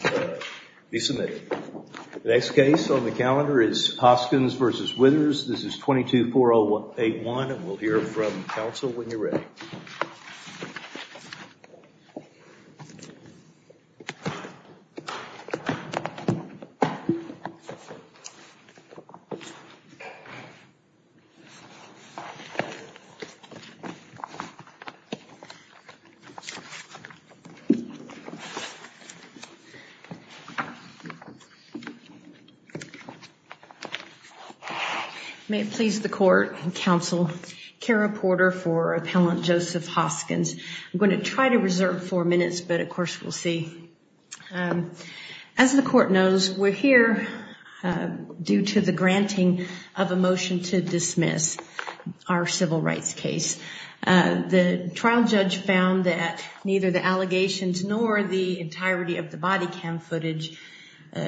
The next case on the calendar is Hoskins v. Withers. This is 22-4081, and we'll hear from May it please the court and counsel, Kara Porter for Appellant Joseph Hoskins. I'm going to try to reserve four minutes, but of course we'll see. As the court knows, we're here due to the granting of a motion to dismiss our civil rights case. The trial judge found that neither the allegations nor the entirety of the body cam footage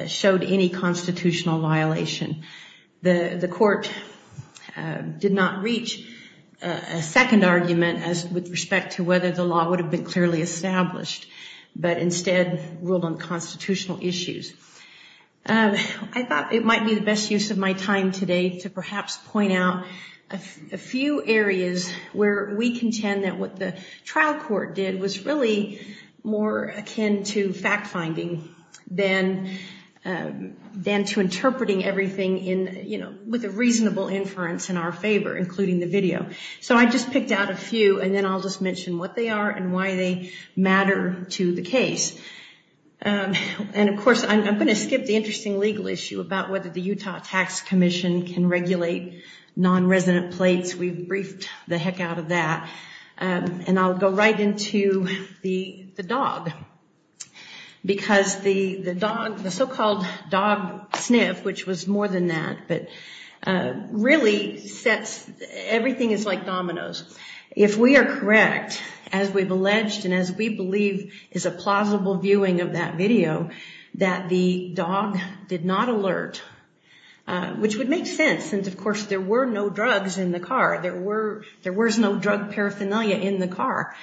showed any constitutional violation. The court did not reach a second argument with respect to whether the law would have been clearly established, but instead ruled on constitutional issues. I thought it might be the best use of my time today to perhaps point out a few areas where we contend that what the trial court did was really more akin to fact-finding than to interpreting everything with a reasonable inference in our favor, including the video. So I just picked out a few, and then I'll just mention what they are and why they matter to the case. And of course, I'm going to skip the interesting legal issue about whether the Utah Tax Commission can regulate non-resident plates. We've briefed the heck out of that. And I'll go right into the dog, because the dog, the so-called dog sniff, which was more than that, but really sets, everything is like dominoes. If we are correct, as we've alleged and as we believe is a plausible viewing of that video, that the dog did not alert, which would make sense, of course, there were no drugs in the car. There was no drug paraphernalia in the car.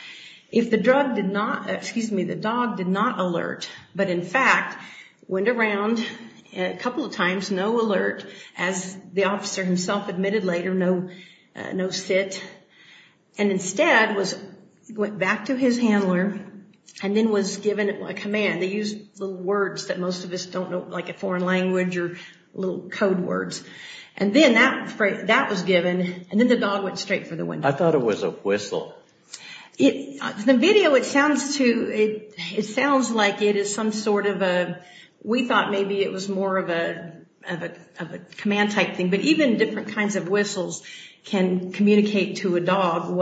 If the dog did not alert, but in fact went around a couple of times, no alert, as the officer himself admitted later, no sit, and instead went back to his handler and then was given a command. They use little words that most of us don't know, like a foreign language or little code words. And then that was given, and then the dog went straight for the window. I thought it was a whistle. In the video, it sounds like it is some sort of a, we thought maybe it was more of a command type thing, but even different kinds of whistles can communicate to a dog,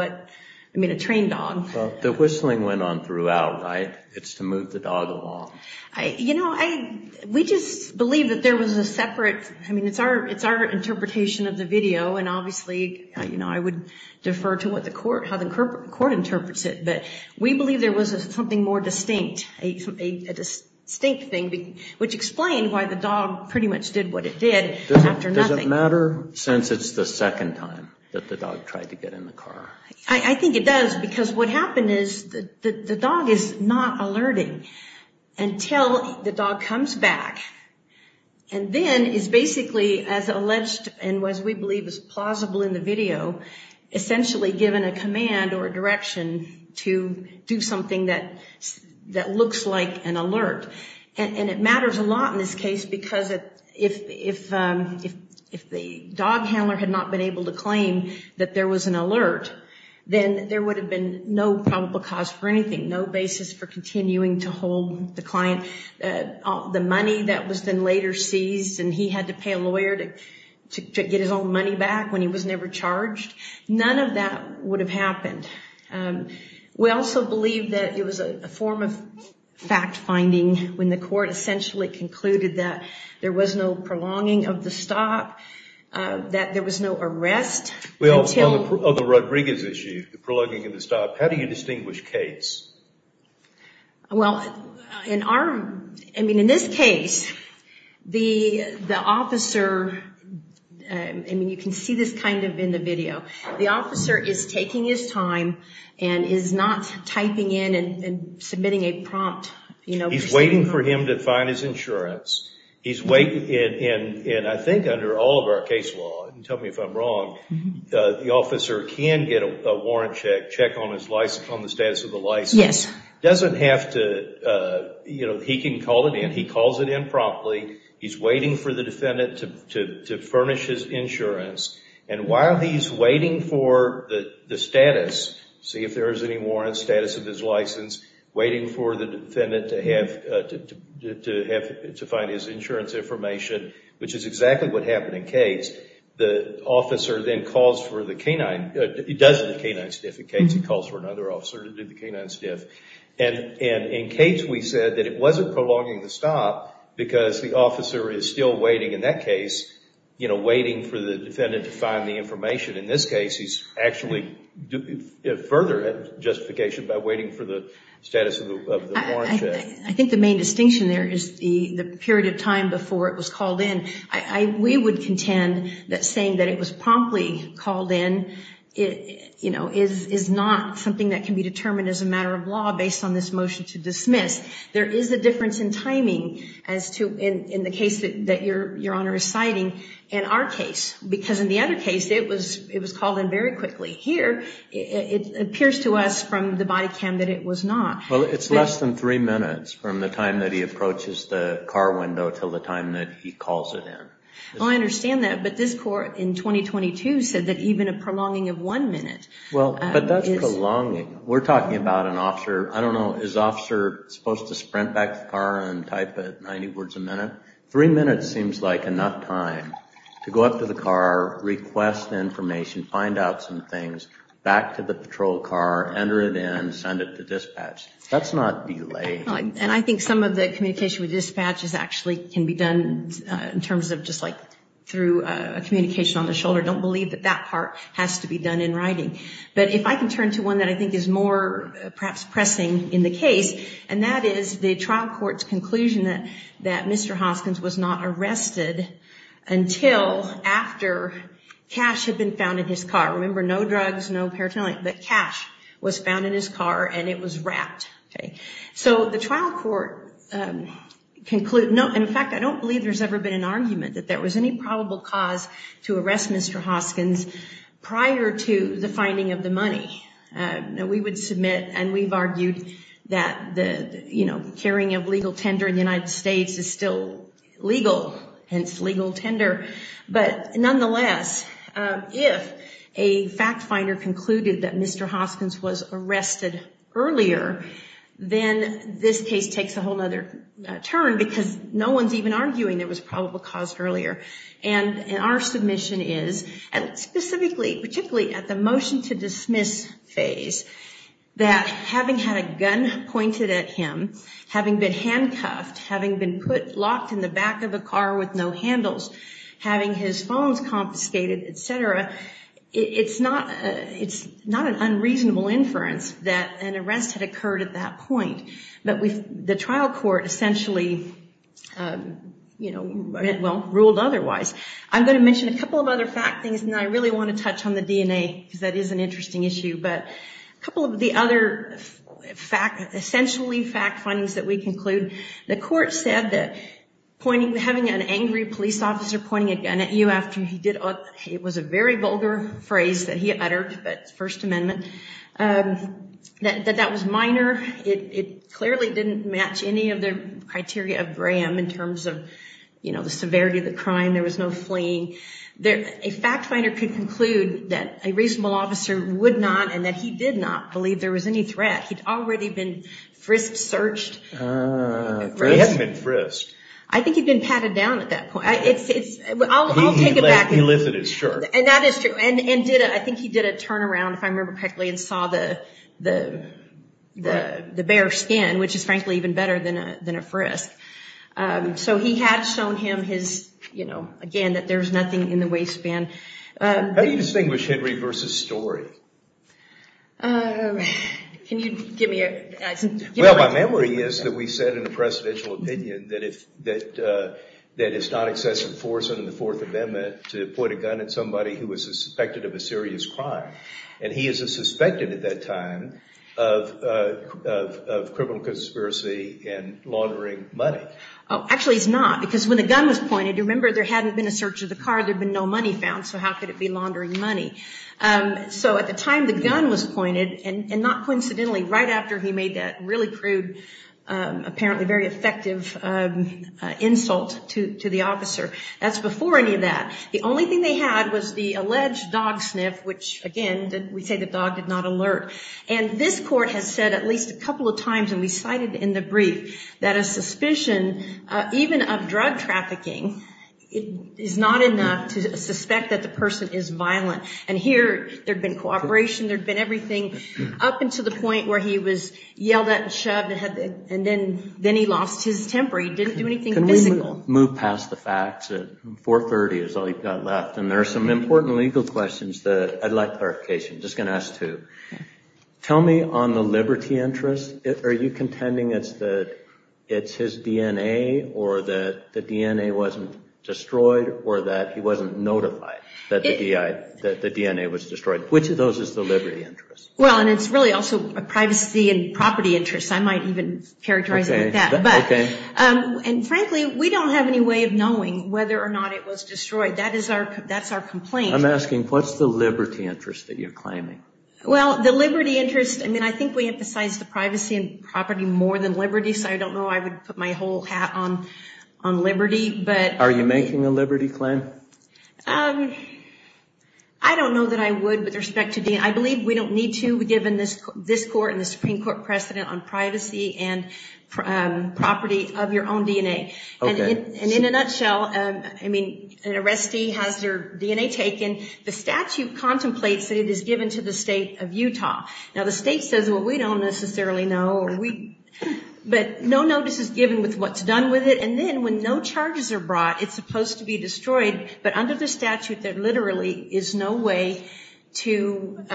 I mean a trained dog. The whistling went on throughout, right? It's to move the dog along. You know, we just believe that there was a separate, I mean it's our interpretation of the video, and obviously I would defer to how the court interprets it, but we believe there was something more distinct, a distinct thing, which explained why the dog pretty much did what it did after nothing. Does it matter since it's the second time that the dog tried to get in the car? I think it does, because what happened is the dog is not alerting until the dog comes back, and then is basically as alleged and as we believe is plausible in the video, essentially given a command or a direction to do something that looks like an alert. And it matters a lot in this case because if the dog handler had not been able to claim that there was an alert, then there would have been no probable cause for anything, no basis for continuing to hold the client. The money that was then later seized and he had to pay a lawyer to get his own money back when he was never charged, none of that would have happened. We also believe that it was a form of fact-finding when the court essentially concluded that there was no prolonging of the stop, that there was no arrest. Well, on the Rodriguez issue, the prolonging of the stop, how do you distinguish case? Well, in our, I mean in this case, the officer, I mean you can see this kind of in the video, the officer is taking his time and is not typing in and submitting a prompt. He's waiting for him to find his insurance. And I think under all of our case law, and tell me if I'm wrong, the officer can get a warrant check, check on the status of the license. Yes. Doesn't have to, you know, he can call it in. He calls it in promptly. He's waiting for the defendant to furnish his insurance. And while he's waiting for the status, see if there is any warrant, status of his license, waiting for the defendant to have, to find his insurance information, which is exactly what happened in Cates. The officer then calls for the canine, he does the canine stiff in Cates, he calls for another officer to do the canine stiff. And in Cates, we said that it wasn't prolonging the stop because the officer is still waiting in that case, you know, waiting for the defendant to find the information. In this case, he's actually further justification by waiting for the status of the warrant check. I think the main distinction there is the period of time before it was called in. We would contend that saying that it was promptly called in, you know, is not something that can be determined as a matter of law based on this motion to dismiss. There is a difference in timing as to, in the case that Your Honor is citing, in our case. Because in the other case, it was called in very quickly. Here, it appears to us from the body cam that it was not. Well, it's less than three minutes from the time that he approaches the car window until the time that he calls it in. Well, I understand that, but this court in 2022 said that even a prolonging of one minute. Well, but that's prolonging. We're talking about an officer, I don't know, is the officer supposed to sprint back to the car and type 90 words a minute? Three minutes seems like enough time to go up to the car, request information, find out some things, back to the patrol car, enter it in, send it to dispatch. That's not delaying. And I think some of the communication with dispatches actually can be done in terms of just like through a communication on the shoulder. Don't believe that that part has to be done in writing. But if I can turn to one that I think is more perhaps pressing in the case, and that is the trial court's conclusion that Mr. Hoskins was not arrested until after Cash had been found in his car. Remember, no drugs, no paraphernalia, but Cash was found in his car and it was wrapped. So the trial court concluded, no, in fact, I don't believe there's ever been an argument that there was any probable cause to arrest Mr. Hoskins prior to the finding of the money. We would submit, and we've argued that the, you know, carrying of legal tender in the United States is still legal, hence legal tender. But nonetheless, if a fact finder concluded that Mr. Hoskins was arrested earlier, then this case takes a whole other turn because no one's even arguing there was probable cause earlier. And our submission is, and specifically, particularly at the motion to dismiss phase, that having had a gun pointed at him, having been handcuffed, having been locked in the back of a car with no handles, having his phones confiscated, etc., it's not an unreasonable inference that an arrest had occurred at that point. But the trial court essentially, you know, well, ruled otherwise. I'm going to mention a couple of other fact things, and I really want to touch on the DNA because that is an interesting issue. But a couple of the other fact, essentially fact findings that we conclude, the court said that pointing, having an angry police officer pointing a gun at you after he did, it was a very vulgar phrase that he uttered, but First Amendment, that that was minor. It clearly didn't match any of the criteria of Graham in terms of, you know, the severity of the crime. There was no fleeing. A fact finder could conclude that a reasonable officer would not and that he did not believe there was any threat. He'd already been frisked, searched. Ah, frisked and frisked. I think he'd been patted down at that point. I'll take it back. He lifted his shirt. And that is true. And I think he did a turnaround, if I remember correctly, and saw the bare skin, which is, frankly, even better than a frisk. So he had shown him his, you know, again, that there's nothing in the waistband. How do you distinguish Henry versus Story? Can you give me an answer? Well, my memory is that we said in the presidential opinion that it's not excessive force under the Fourth Amendment to point a gun at somebody who was suspected of a serious crime. And he is a suspected at that time of criminal conspiracy and laundering money. Actually, he's not, because when the gun was pointed, remember, there hadn't been a search of the car. There had been no money found. So how could it be laundering money? So at the time the gun was pointed, and not coincidentally, right after he made that really crude, apparently very effective insult to the officer, that's before any of that, the only thing they had was the alleged dog sniff, which, again, we say the dog did not alert. And this court has said at least a couple of times, and we cited in the brief, that a suspicion even of drug trafficking is not enough to suspect that the person is violent. And here there had been cooperation. There had been everything up until the point where he was yelled at and shoved, and then he lost his temper. He didn't do anything physical. Can we move past the facts? 430 is all you've got left. And there are some important legal questions that I'd like clarification. I'm just going to ask two. Tell me on the liberty interest, are you contending it's the it's his DNA, or that the DNA wasn't destroyed, or that he wasn't notified that the DNA was destroyed? Which of those is the liberty interest? Well, and it's really also a privacy and property interest. I might even characterize it like that. Okay. And frankly, we don't have any way of knowing whether or not it was destroyed. That's our complaint. I'm asking, what's the liberty interest that you're claiming? Well, the liberty interest, I mean, I think we emphasize the privacy and property more than liberty. So I don't know. I would put my whole hat on liberty. Are you making a liberty claim? I don't know that I would with respect to DNA. I believe we don't need to, given this court and the Supreme Court precedent on privacy and property of your own DNA. Okay. And in a nutshell, I mean, an arrestee has their DNA taken. The statute contemplates that it is given to the state of Utah. Now, the state says, well, we don't necessarily know. But no notice is given with what's done with it. And then when no charges are brought, it's supposed to be destroyed. But under the statute, there literally is no way to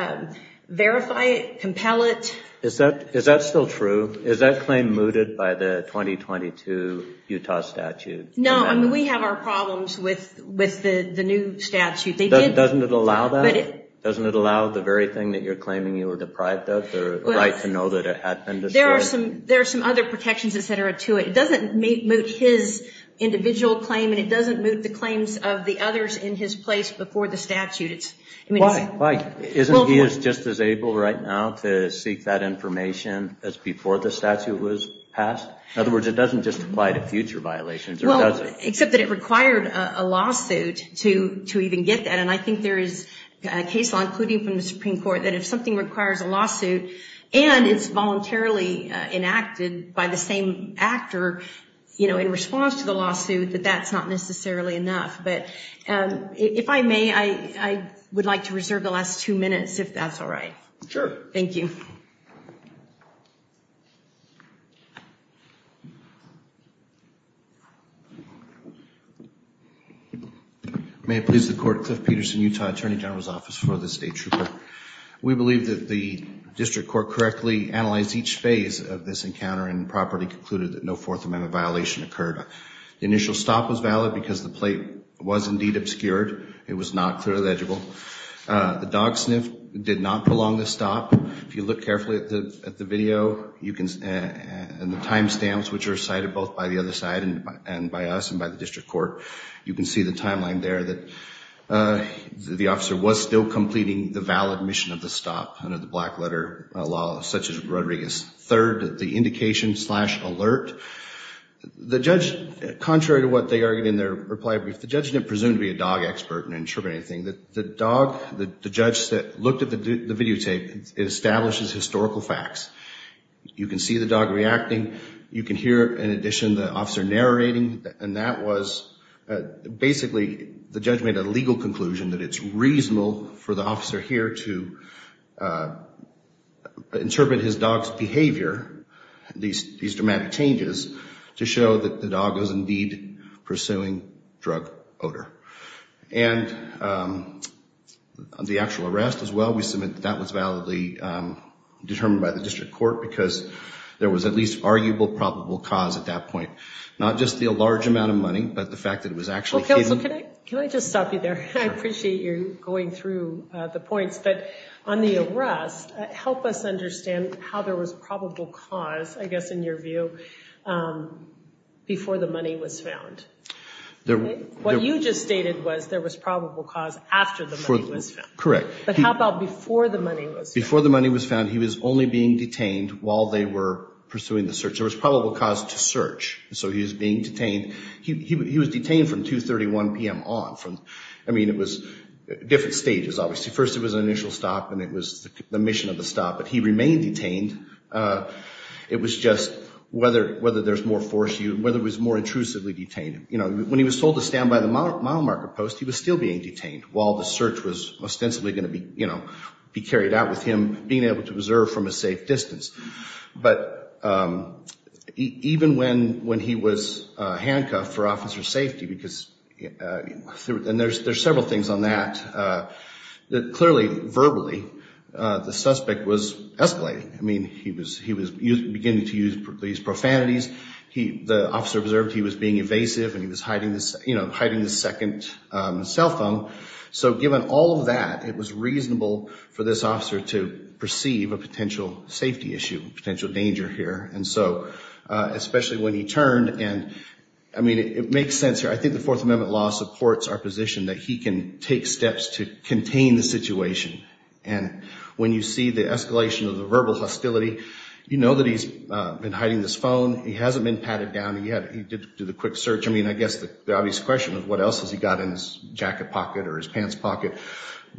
verify it, compel it. Is that still true? Is that claim mooted by the 2022 Utah statute? No, I mean, we have our problems with the new statute. Doesn't it allow that? Doesn't it allow the very thing that you're claiming you were deprived of, the right to know that it had been destroyed? There are some other protections, et cetera, to it. It doesn't moot his individual claim, and it doesn't moot the claims of the others in his place before the statute. Why? Isn't he just as able right now to seek that information as before the statute was passed? In other words, it doesn't just apply to future violations, or does it? Except that it required a lawsuit to even get that. And I think there is case law, including from the Supreme Court, that if something requires a lawsuit, and it's voluntarily enacted by the same actor in response to the lawsuit, that that's not necessarily enough. But if I may, I would like to reserve the last two minutes, if that's all right. Sure. Thank you. May it please the Court, Cliff Peterson, Utah Attorney General's Office for the State Trooper. We believe that the district court correctly analyzed each phase of this encounter and properly concluded that no Fourth Amendment violation occurred. The initial stop was valid because the plate was indeed obscured. It was not clearly legible. The dog sniff did not prolong the stop. If you look carefully at the video and the time stamps, which are cited both by the other side and by us and by the district court, you can see the timeline there that the officer was still completing the valid mission of the stop under the black letter law, such as Rodriguez. Third, the indication slash alert, the judge, contrary to what they argued in their reply brief, the judge didn't presume to be a dog expert and interpret anything. The dog, the judge that looked at the videotape, it establishes historical facts. You can see the dog reacting. You can hear, in addition, the officer narrating. And that was basically the judge made a legal conclusion that it's reasonable for the officer here to interpret his dog's behavior, these dramatic changes, to show that the dog was indeed pursuing drug odor. And the actual arrest as well, we submit that that was validly determined by the district court because there was at least arguable probable cause at that point. Not just the large amount of money, but the fact that it was actually hidden. Well, counsel, can I just stop you there? I appreciate you going through the points, but on the arrest, help us understand how there was probable cause, I guess in your view, before the money was found. What you just stated was there was probable cause after the money was found. Correct. But how about before the money was found? Before the money was found, he was only being detained while they were pursuing the search. There was probable cause to search, so he was being detained. He was detained from 2.31 p.m. on. I mean, it was different stages, obviously. First, it was an initial stop, and it was the mission of the stop, but he remained detained. It was just whether there's more force, whether it was more intrusively detained. When he was told to stand by the mile marker post, he was still being detained while the search was ostensibly going to be carried out with him being able to observe from a safe distance. But even when he was handcuffed for officer safety, because there's several things on that, clearly, verbally, the suspect was escalating. I mean, he was beginning to use these profanities. The officer observed he was being evasive, and he was hiding his second cell phone. So given all of that, it was reasonable for this officer to perceive a potential safety issue, a potential danger here, especially when he turned. I mean, it makes sense here. I think the Fourth Amendment law supports our position that he can take steps to contain the situation. And when you see the escalation of the verbal hostility, you know that he's been hiding this phone. He hasn't been patted down yet. He did do the quick search. I mean, I guess the obvious question is what else has he got in his jacket pocket or his pants pocket.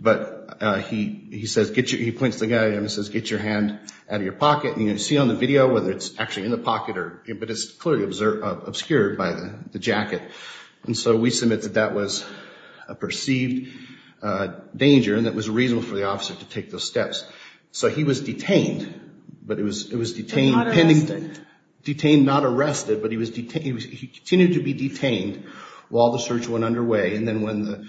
But he says, he points to the guy, and he says, get your hand out of your pocket. You can see on the video whether it's actually in the pocket, but it's clearly obscured by the jacket. And so we submit that that was a perceived danger, and it was reasonable for the officer to take those steps. So he was detained, but it was detained pending. Detained, not arrested. Detained, not arrested, but he continued to be detained while the search went underway. And then when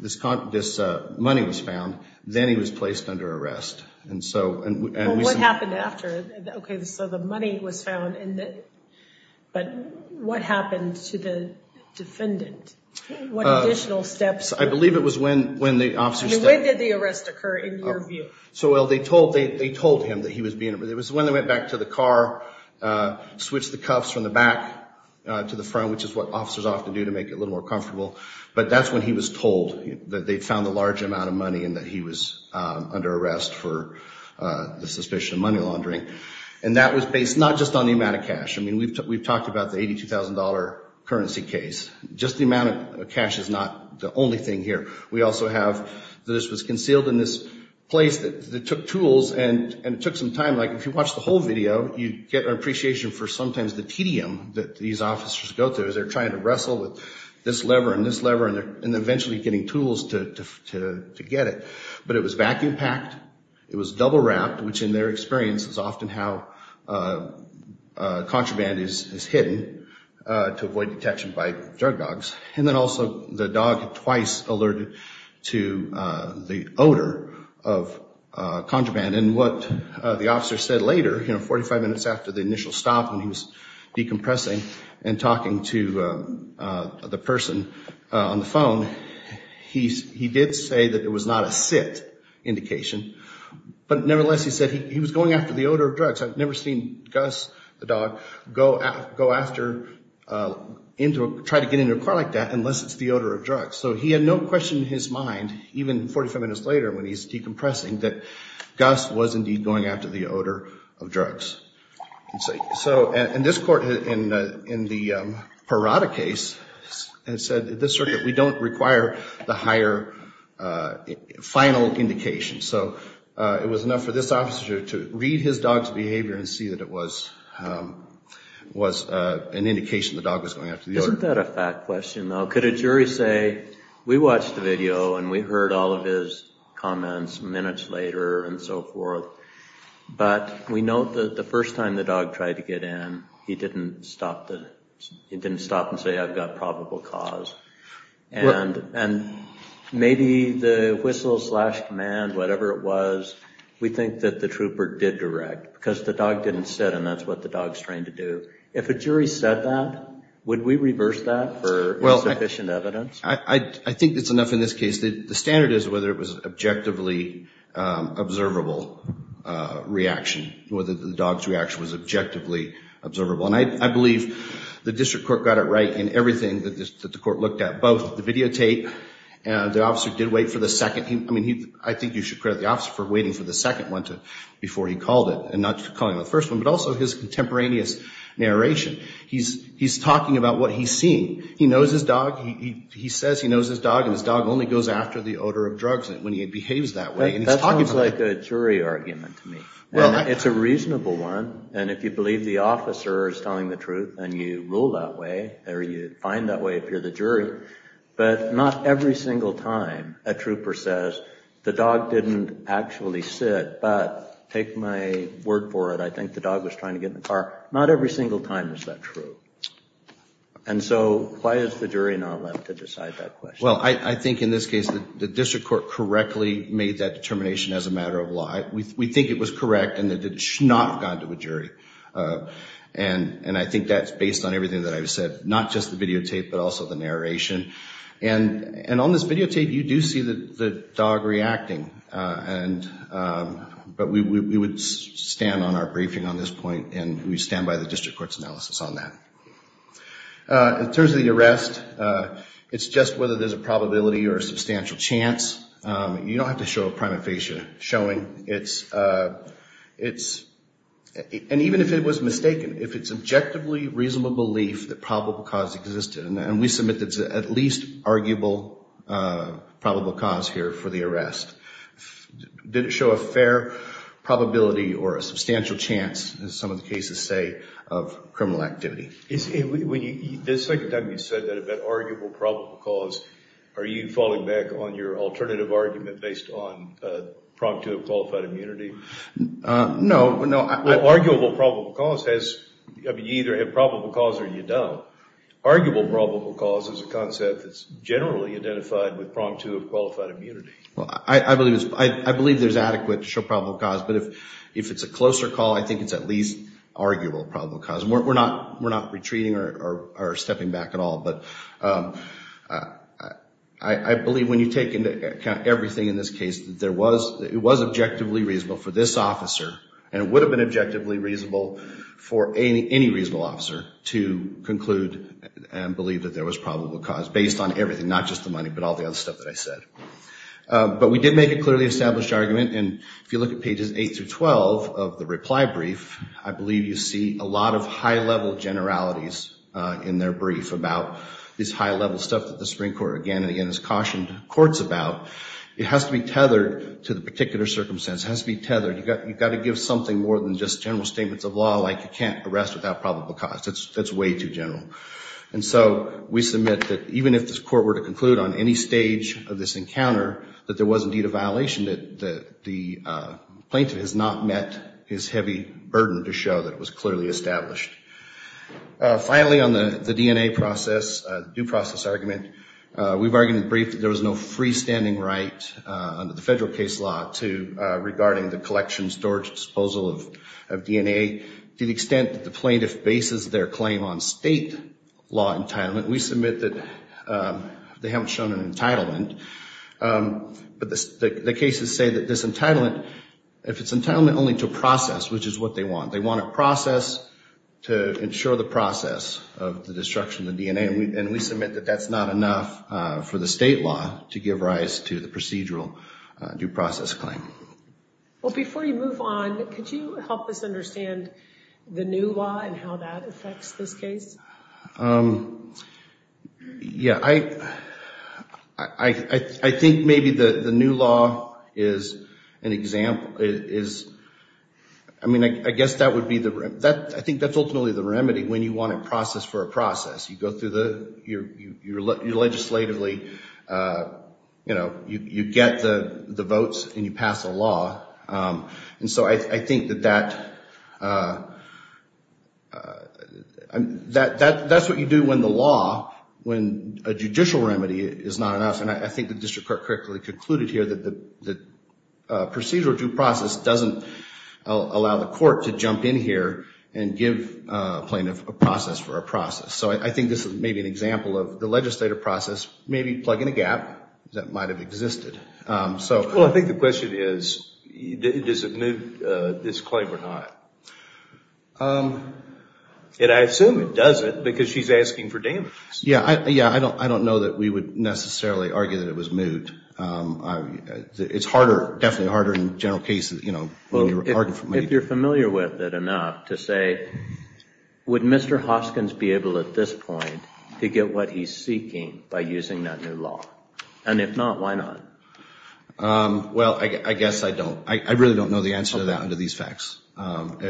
this money was found, then he was placed under arrest. Well, what happened after? Okay, so the money was found, but what happened to the defendant? What additional steps? I believe it was when the officer stepped in. When did the arrest occur in your view? So, well, they told him that he was being arrested. It was when they went back to the car, switched the cuffs from the back to the front, which is what officers often do to make it a little more comfortable. But that's when he was told that they found a large amount of money and that he was under arrest for the suspicion of money laundering. And that was based not just on the amount of cash. I mean, we've talked about the $82,000 currency case. Just the amount of cash is not the only thing here. We also have this was concealed in this place that took tools, and it took some time. Like if you watch the whole video, you get an appreciation for sometimes the tedium that these officers go through because they're trying to wrestle with this lever and this lever and eventually getting tools to get it. But it was vacuum packed. It was double wrapped, which in their experience is often how contraband is hidden to avoid detection by drug dogs. And then also the dog twice alerted to the odor of contraband. And what the officer said later, you know, 45 minutes after the initial stop when he was decompressing and talking to the person on the phone, he did say that it was not a sit indication. But nevertheless, he said he was going after the odor of drugs. I've never seen Gus, the dog, go after, try to get into a car like that unless it's the odor of drugs. So he had no question in his mind, even 45 minutes later when he's decompressing, that Gus was indeed going after the odor of drugs. So in this court, in the Parada case, it said this circuit, we don't require the higher final indication. So it was enough for this officer to read his dog's behavior and see that it was an indication the dog was going after the odor. Isn't that a fact question, though? Could a jury say, we watched the video and we heard all of his comments minutes later and so forth, but we know that the first time the dog tried to get in, he didn't stop and say, I've got probable cause. And maybe the whistle slash command, whatever it was, we think that the trooper did direct because the dog didn't sit and that's what the dog's trained to do. If a jury said that, would we reverse that for sufficient evidence? I think that's enough in this case. The standard is whether it was objectively observable reaction, whether the dog's reaction was objectively observable. And I believe the district court got it right in everything that the court looked at, both the videotape and the officer did wait for the second. I mean, I think you should credit the officer for waiting for the second one before he called it and not calling the first one, but also his contemporaneous narration. He's talking about what he's seeing. He knows his dog. He says he knows his dog, and his dog only goes after the odor of drugs when he behaves that way. That sounds like a jury argument to me, and it's a reasonable one. And if you believe the officer is telling the truth and you rule that way or you find that way if you're the jury, but not every single time a trooper says, the dog didn't actually sit, but take my word for it, I think the dog was trying to get in the car. Not every single time is that true. And so why is the jury not allowed to decide that question? Well, I think in this case the district court correctly made that determination as a matter of law. We think it was correct, and it should not have gone to a jury. And I think that's based on everything that I've said, not just the videotape but also the narration. And on this videotape you do see the dog reacting, but we would stand on our briefing on this point, and we stand by the district court's analysis on that. In terms of the arrest, it's just whether there's a probability or a substantial chance. You don't have to show a prima facie showing. And even if it was mistaken, if it's objectively reasonable belief that probable cause existed, and we submit that it's at least arguable probable cause here for the arrest. Did it show a fair probability or a substantial chance, as some of the cases say, of criminal activity? The second time you said that about arguable probable cause, are you falling back on your alternative argument based on prompt to a qualified immunity? No, no. Well, arguable probable cause has, I mean, you either have probable cause or you don't. Arguable probable cause is a concept that's generally identified with prompt to a qualified immunity. Well, I believe there's adequate to show probable cause. But if it's a closer call, I think it's at least arguable probable cause. And we're not retreating or stepping back at all. But I believe when you take into account everything in this case, it was objectively reasonable for this officer, and it would have been objectively reasonable for any reasonable officer to conclude and believe that there was probable cause, based on everything, not just the money, but all the other stuff that I said. But we did make a clearly established argument, and if you look at pages 8 through 12 of the reply brief, I believe you see a lot of high-level generalities in their brief about this high-level stuff that the Supreme Court, again and again, has cautioned courts about. It has to be tethered to the particular circumstance. It has to be tethered. You've got to give something more than just general statements of law, like you can't arrest without probable cause. That's way too general. And so we submit that even if this court were to conclude on any stage of this encounter, that there was indeed a violation, that the plaintiff has not met his heavy burden to show that it was clearly established. Finally, on the DNA process, due process argument, we've argued in the brief that there was no freestanding right under the federal case law regarding the collection, storage, disposal of DNA. To the extent that the plaintiff bases their claim on state law entitlement, we submit that they haven't shown an entitlement. But the cases say that this entitlement, if it's entitlement only to a process, which is what they want, they want a process to ensure the process of the destruction of the DNA. And we submit that that's not enough for the state law to give rise to the procedural due process claim. Well, before you move on, could you help us understand the new law and how that affects this case? Yeah. I think maybe the new law is an example. I mean, I guess that would be the—I think that's ultimately the remedy, when you want a process for a process. You go through the—legislatively, you know, you get the votes and you pass the law. And so I think that that's what you do when the law, when a judicial remedy is not enough. And I think the district court correctly concluded here that the procedural due process doesn't allow the court to jump in here and give a plaintiff a process for a process. So I think this is maybe an example of the legislative process maybe plugging a gap that might have existed. Well, I think the question is, does it move this claim or not? And I assume it doesn't because she's asking for damages. Yeah, I don't know that we would necessarily argue that it was moved. It's harder, definitely harder in general cases, you know, when you're arguing for money. I don't know if you're familiar with it enough to say, would Mr. Hoskins be able at this point to get what he's seeking by using that new law? And if not, why not? Well, I guess I don't. I really don't know the answer to that under these facts. And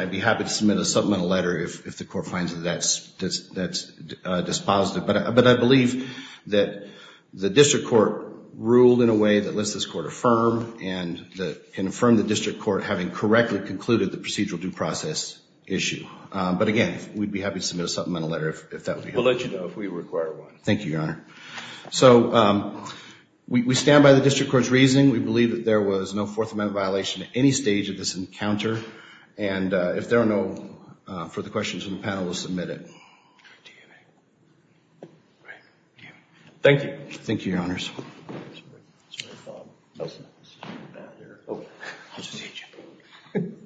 I'd be happy to submit a supplemental letter if the court finds that that's dispositive. But I believe that the district court ruled in a way that lets this court affirm and confirm the district court having correctly concluded the procedural due process issue. But, again, we'd be happy to submit a supplemental letter if that would be helpful. We'll let you know if we require one. Thank you, Your Honor. So we stand by the district court's reasoning. We believe that there was no Fourth Amendment violation at any stage of this encounter. And if there are no further questions from the panel, we'll submit it. Thank you. Thank you, Your Honors. Sorry, Bob. I'll just hit you.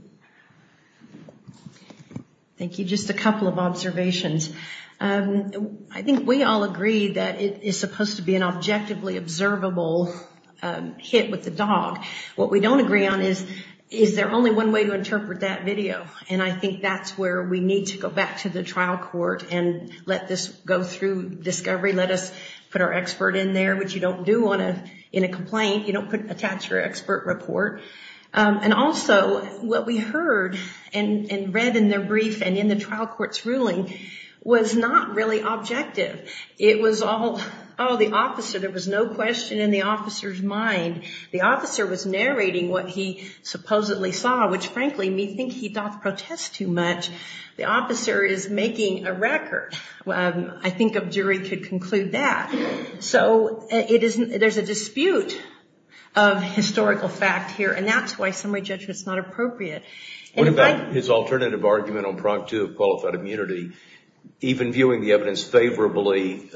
Thank you. Just a couple of observations. I think we all agree that it is supposed to be an objectively observable hit with the dog. What we don't agree on is, is there only one way to interpret that video? And I think that's where we need to go back to the trial court and let this go through discovery, let us put our expert in there, which you don't do in a complaint. You don't attach your expert report. And also, what we heard and read in their brief and in the trial court's ruling was not really objective. It was all, oh, the officer, there was no question in the officer's mind. The officer was narrating what he supposedly saw, which, frankly, me think he doth protest too much. The officer is making a record. I think a jury could conclude that. So there's a dispute of historical fact here, and that's why summary judgment is not appropriate. What about his alternative argument on prompt to a qualified immunity? Even viewing the evidence favorably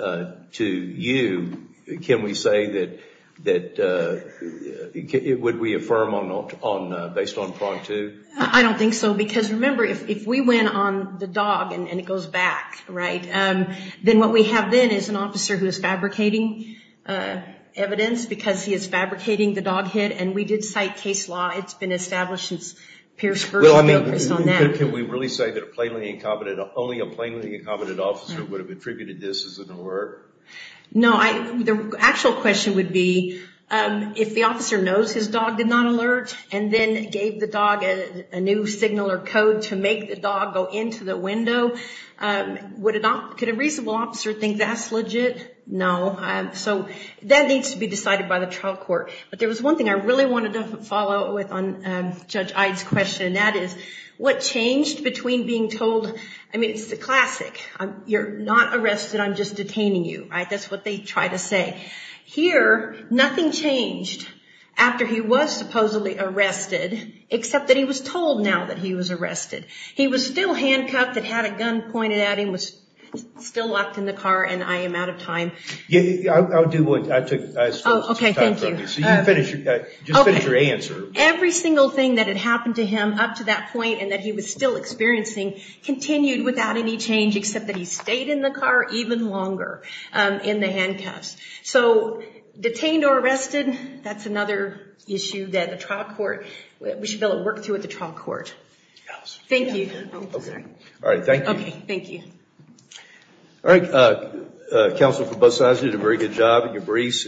to you, can we say that, would we affirm based on prompt two? I don't think so, because remember, if we went on the dog and it goes back, right, then what we have then is an officer who is fabricating evidence because he is fabricating the dog hit. And we did cite case law. It's been established since Pierce versus Bailiff. Can we really say that only a plainly incompetent officer would have attributed this as an alert? No. The actual question would be, if the officer knows his dog did not alert and then gave the dog a new signal or code to make the dog go into the window, could a reasonable officer think that's legit? No. So that needs to be decided by the trial court. But there was one thing I really wanted to follow up with on Judge Ide's question, and that is what changed between being told, I mean, it's the classic. You're not arrested. I'm just detaining you. Right? That's what they try to say. Here, nothing changed after he was supposedly arrested, except that he was told now that he was arrested. He was still handcuffed, had a gun pointed at him, was still locked in the car, and I am out of time. I'll do one. I took as much time as I could. Oh, okay. Thank you. Just finish your answer. Every single thing that had happened to him up to that point and that he was still experiencing continued without any change except that he stayed in the car even longer in the handcuffs. So detained or arrested, that's another issue that the trial court, we should be able to work through at the trial court. Thank you. Okay. All right. Thank you. Okay. Thank you. All right. Counsel for both sides did a very good job in your briefs.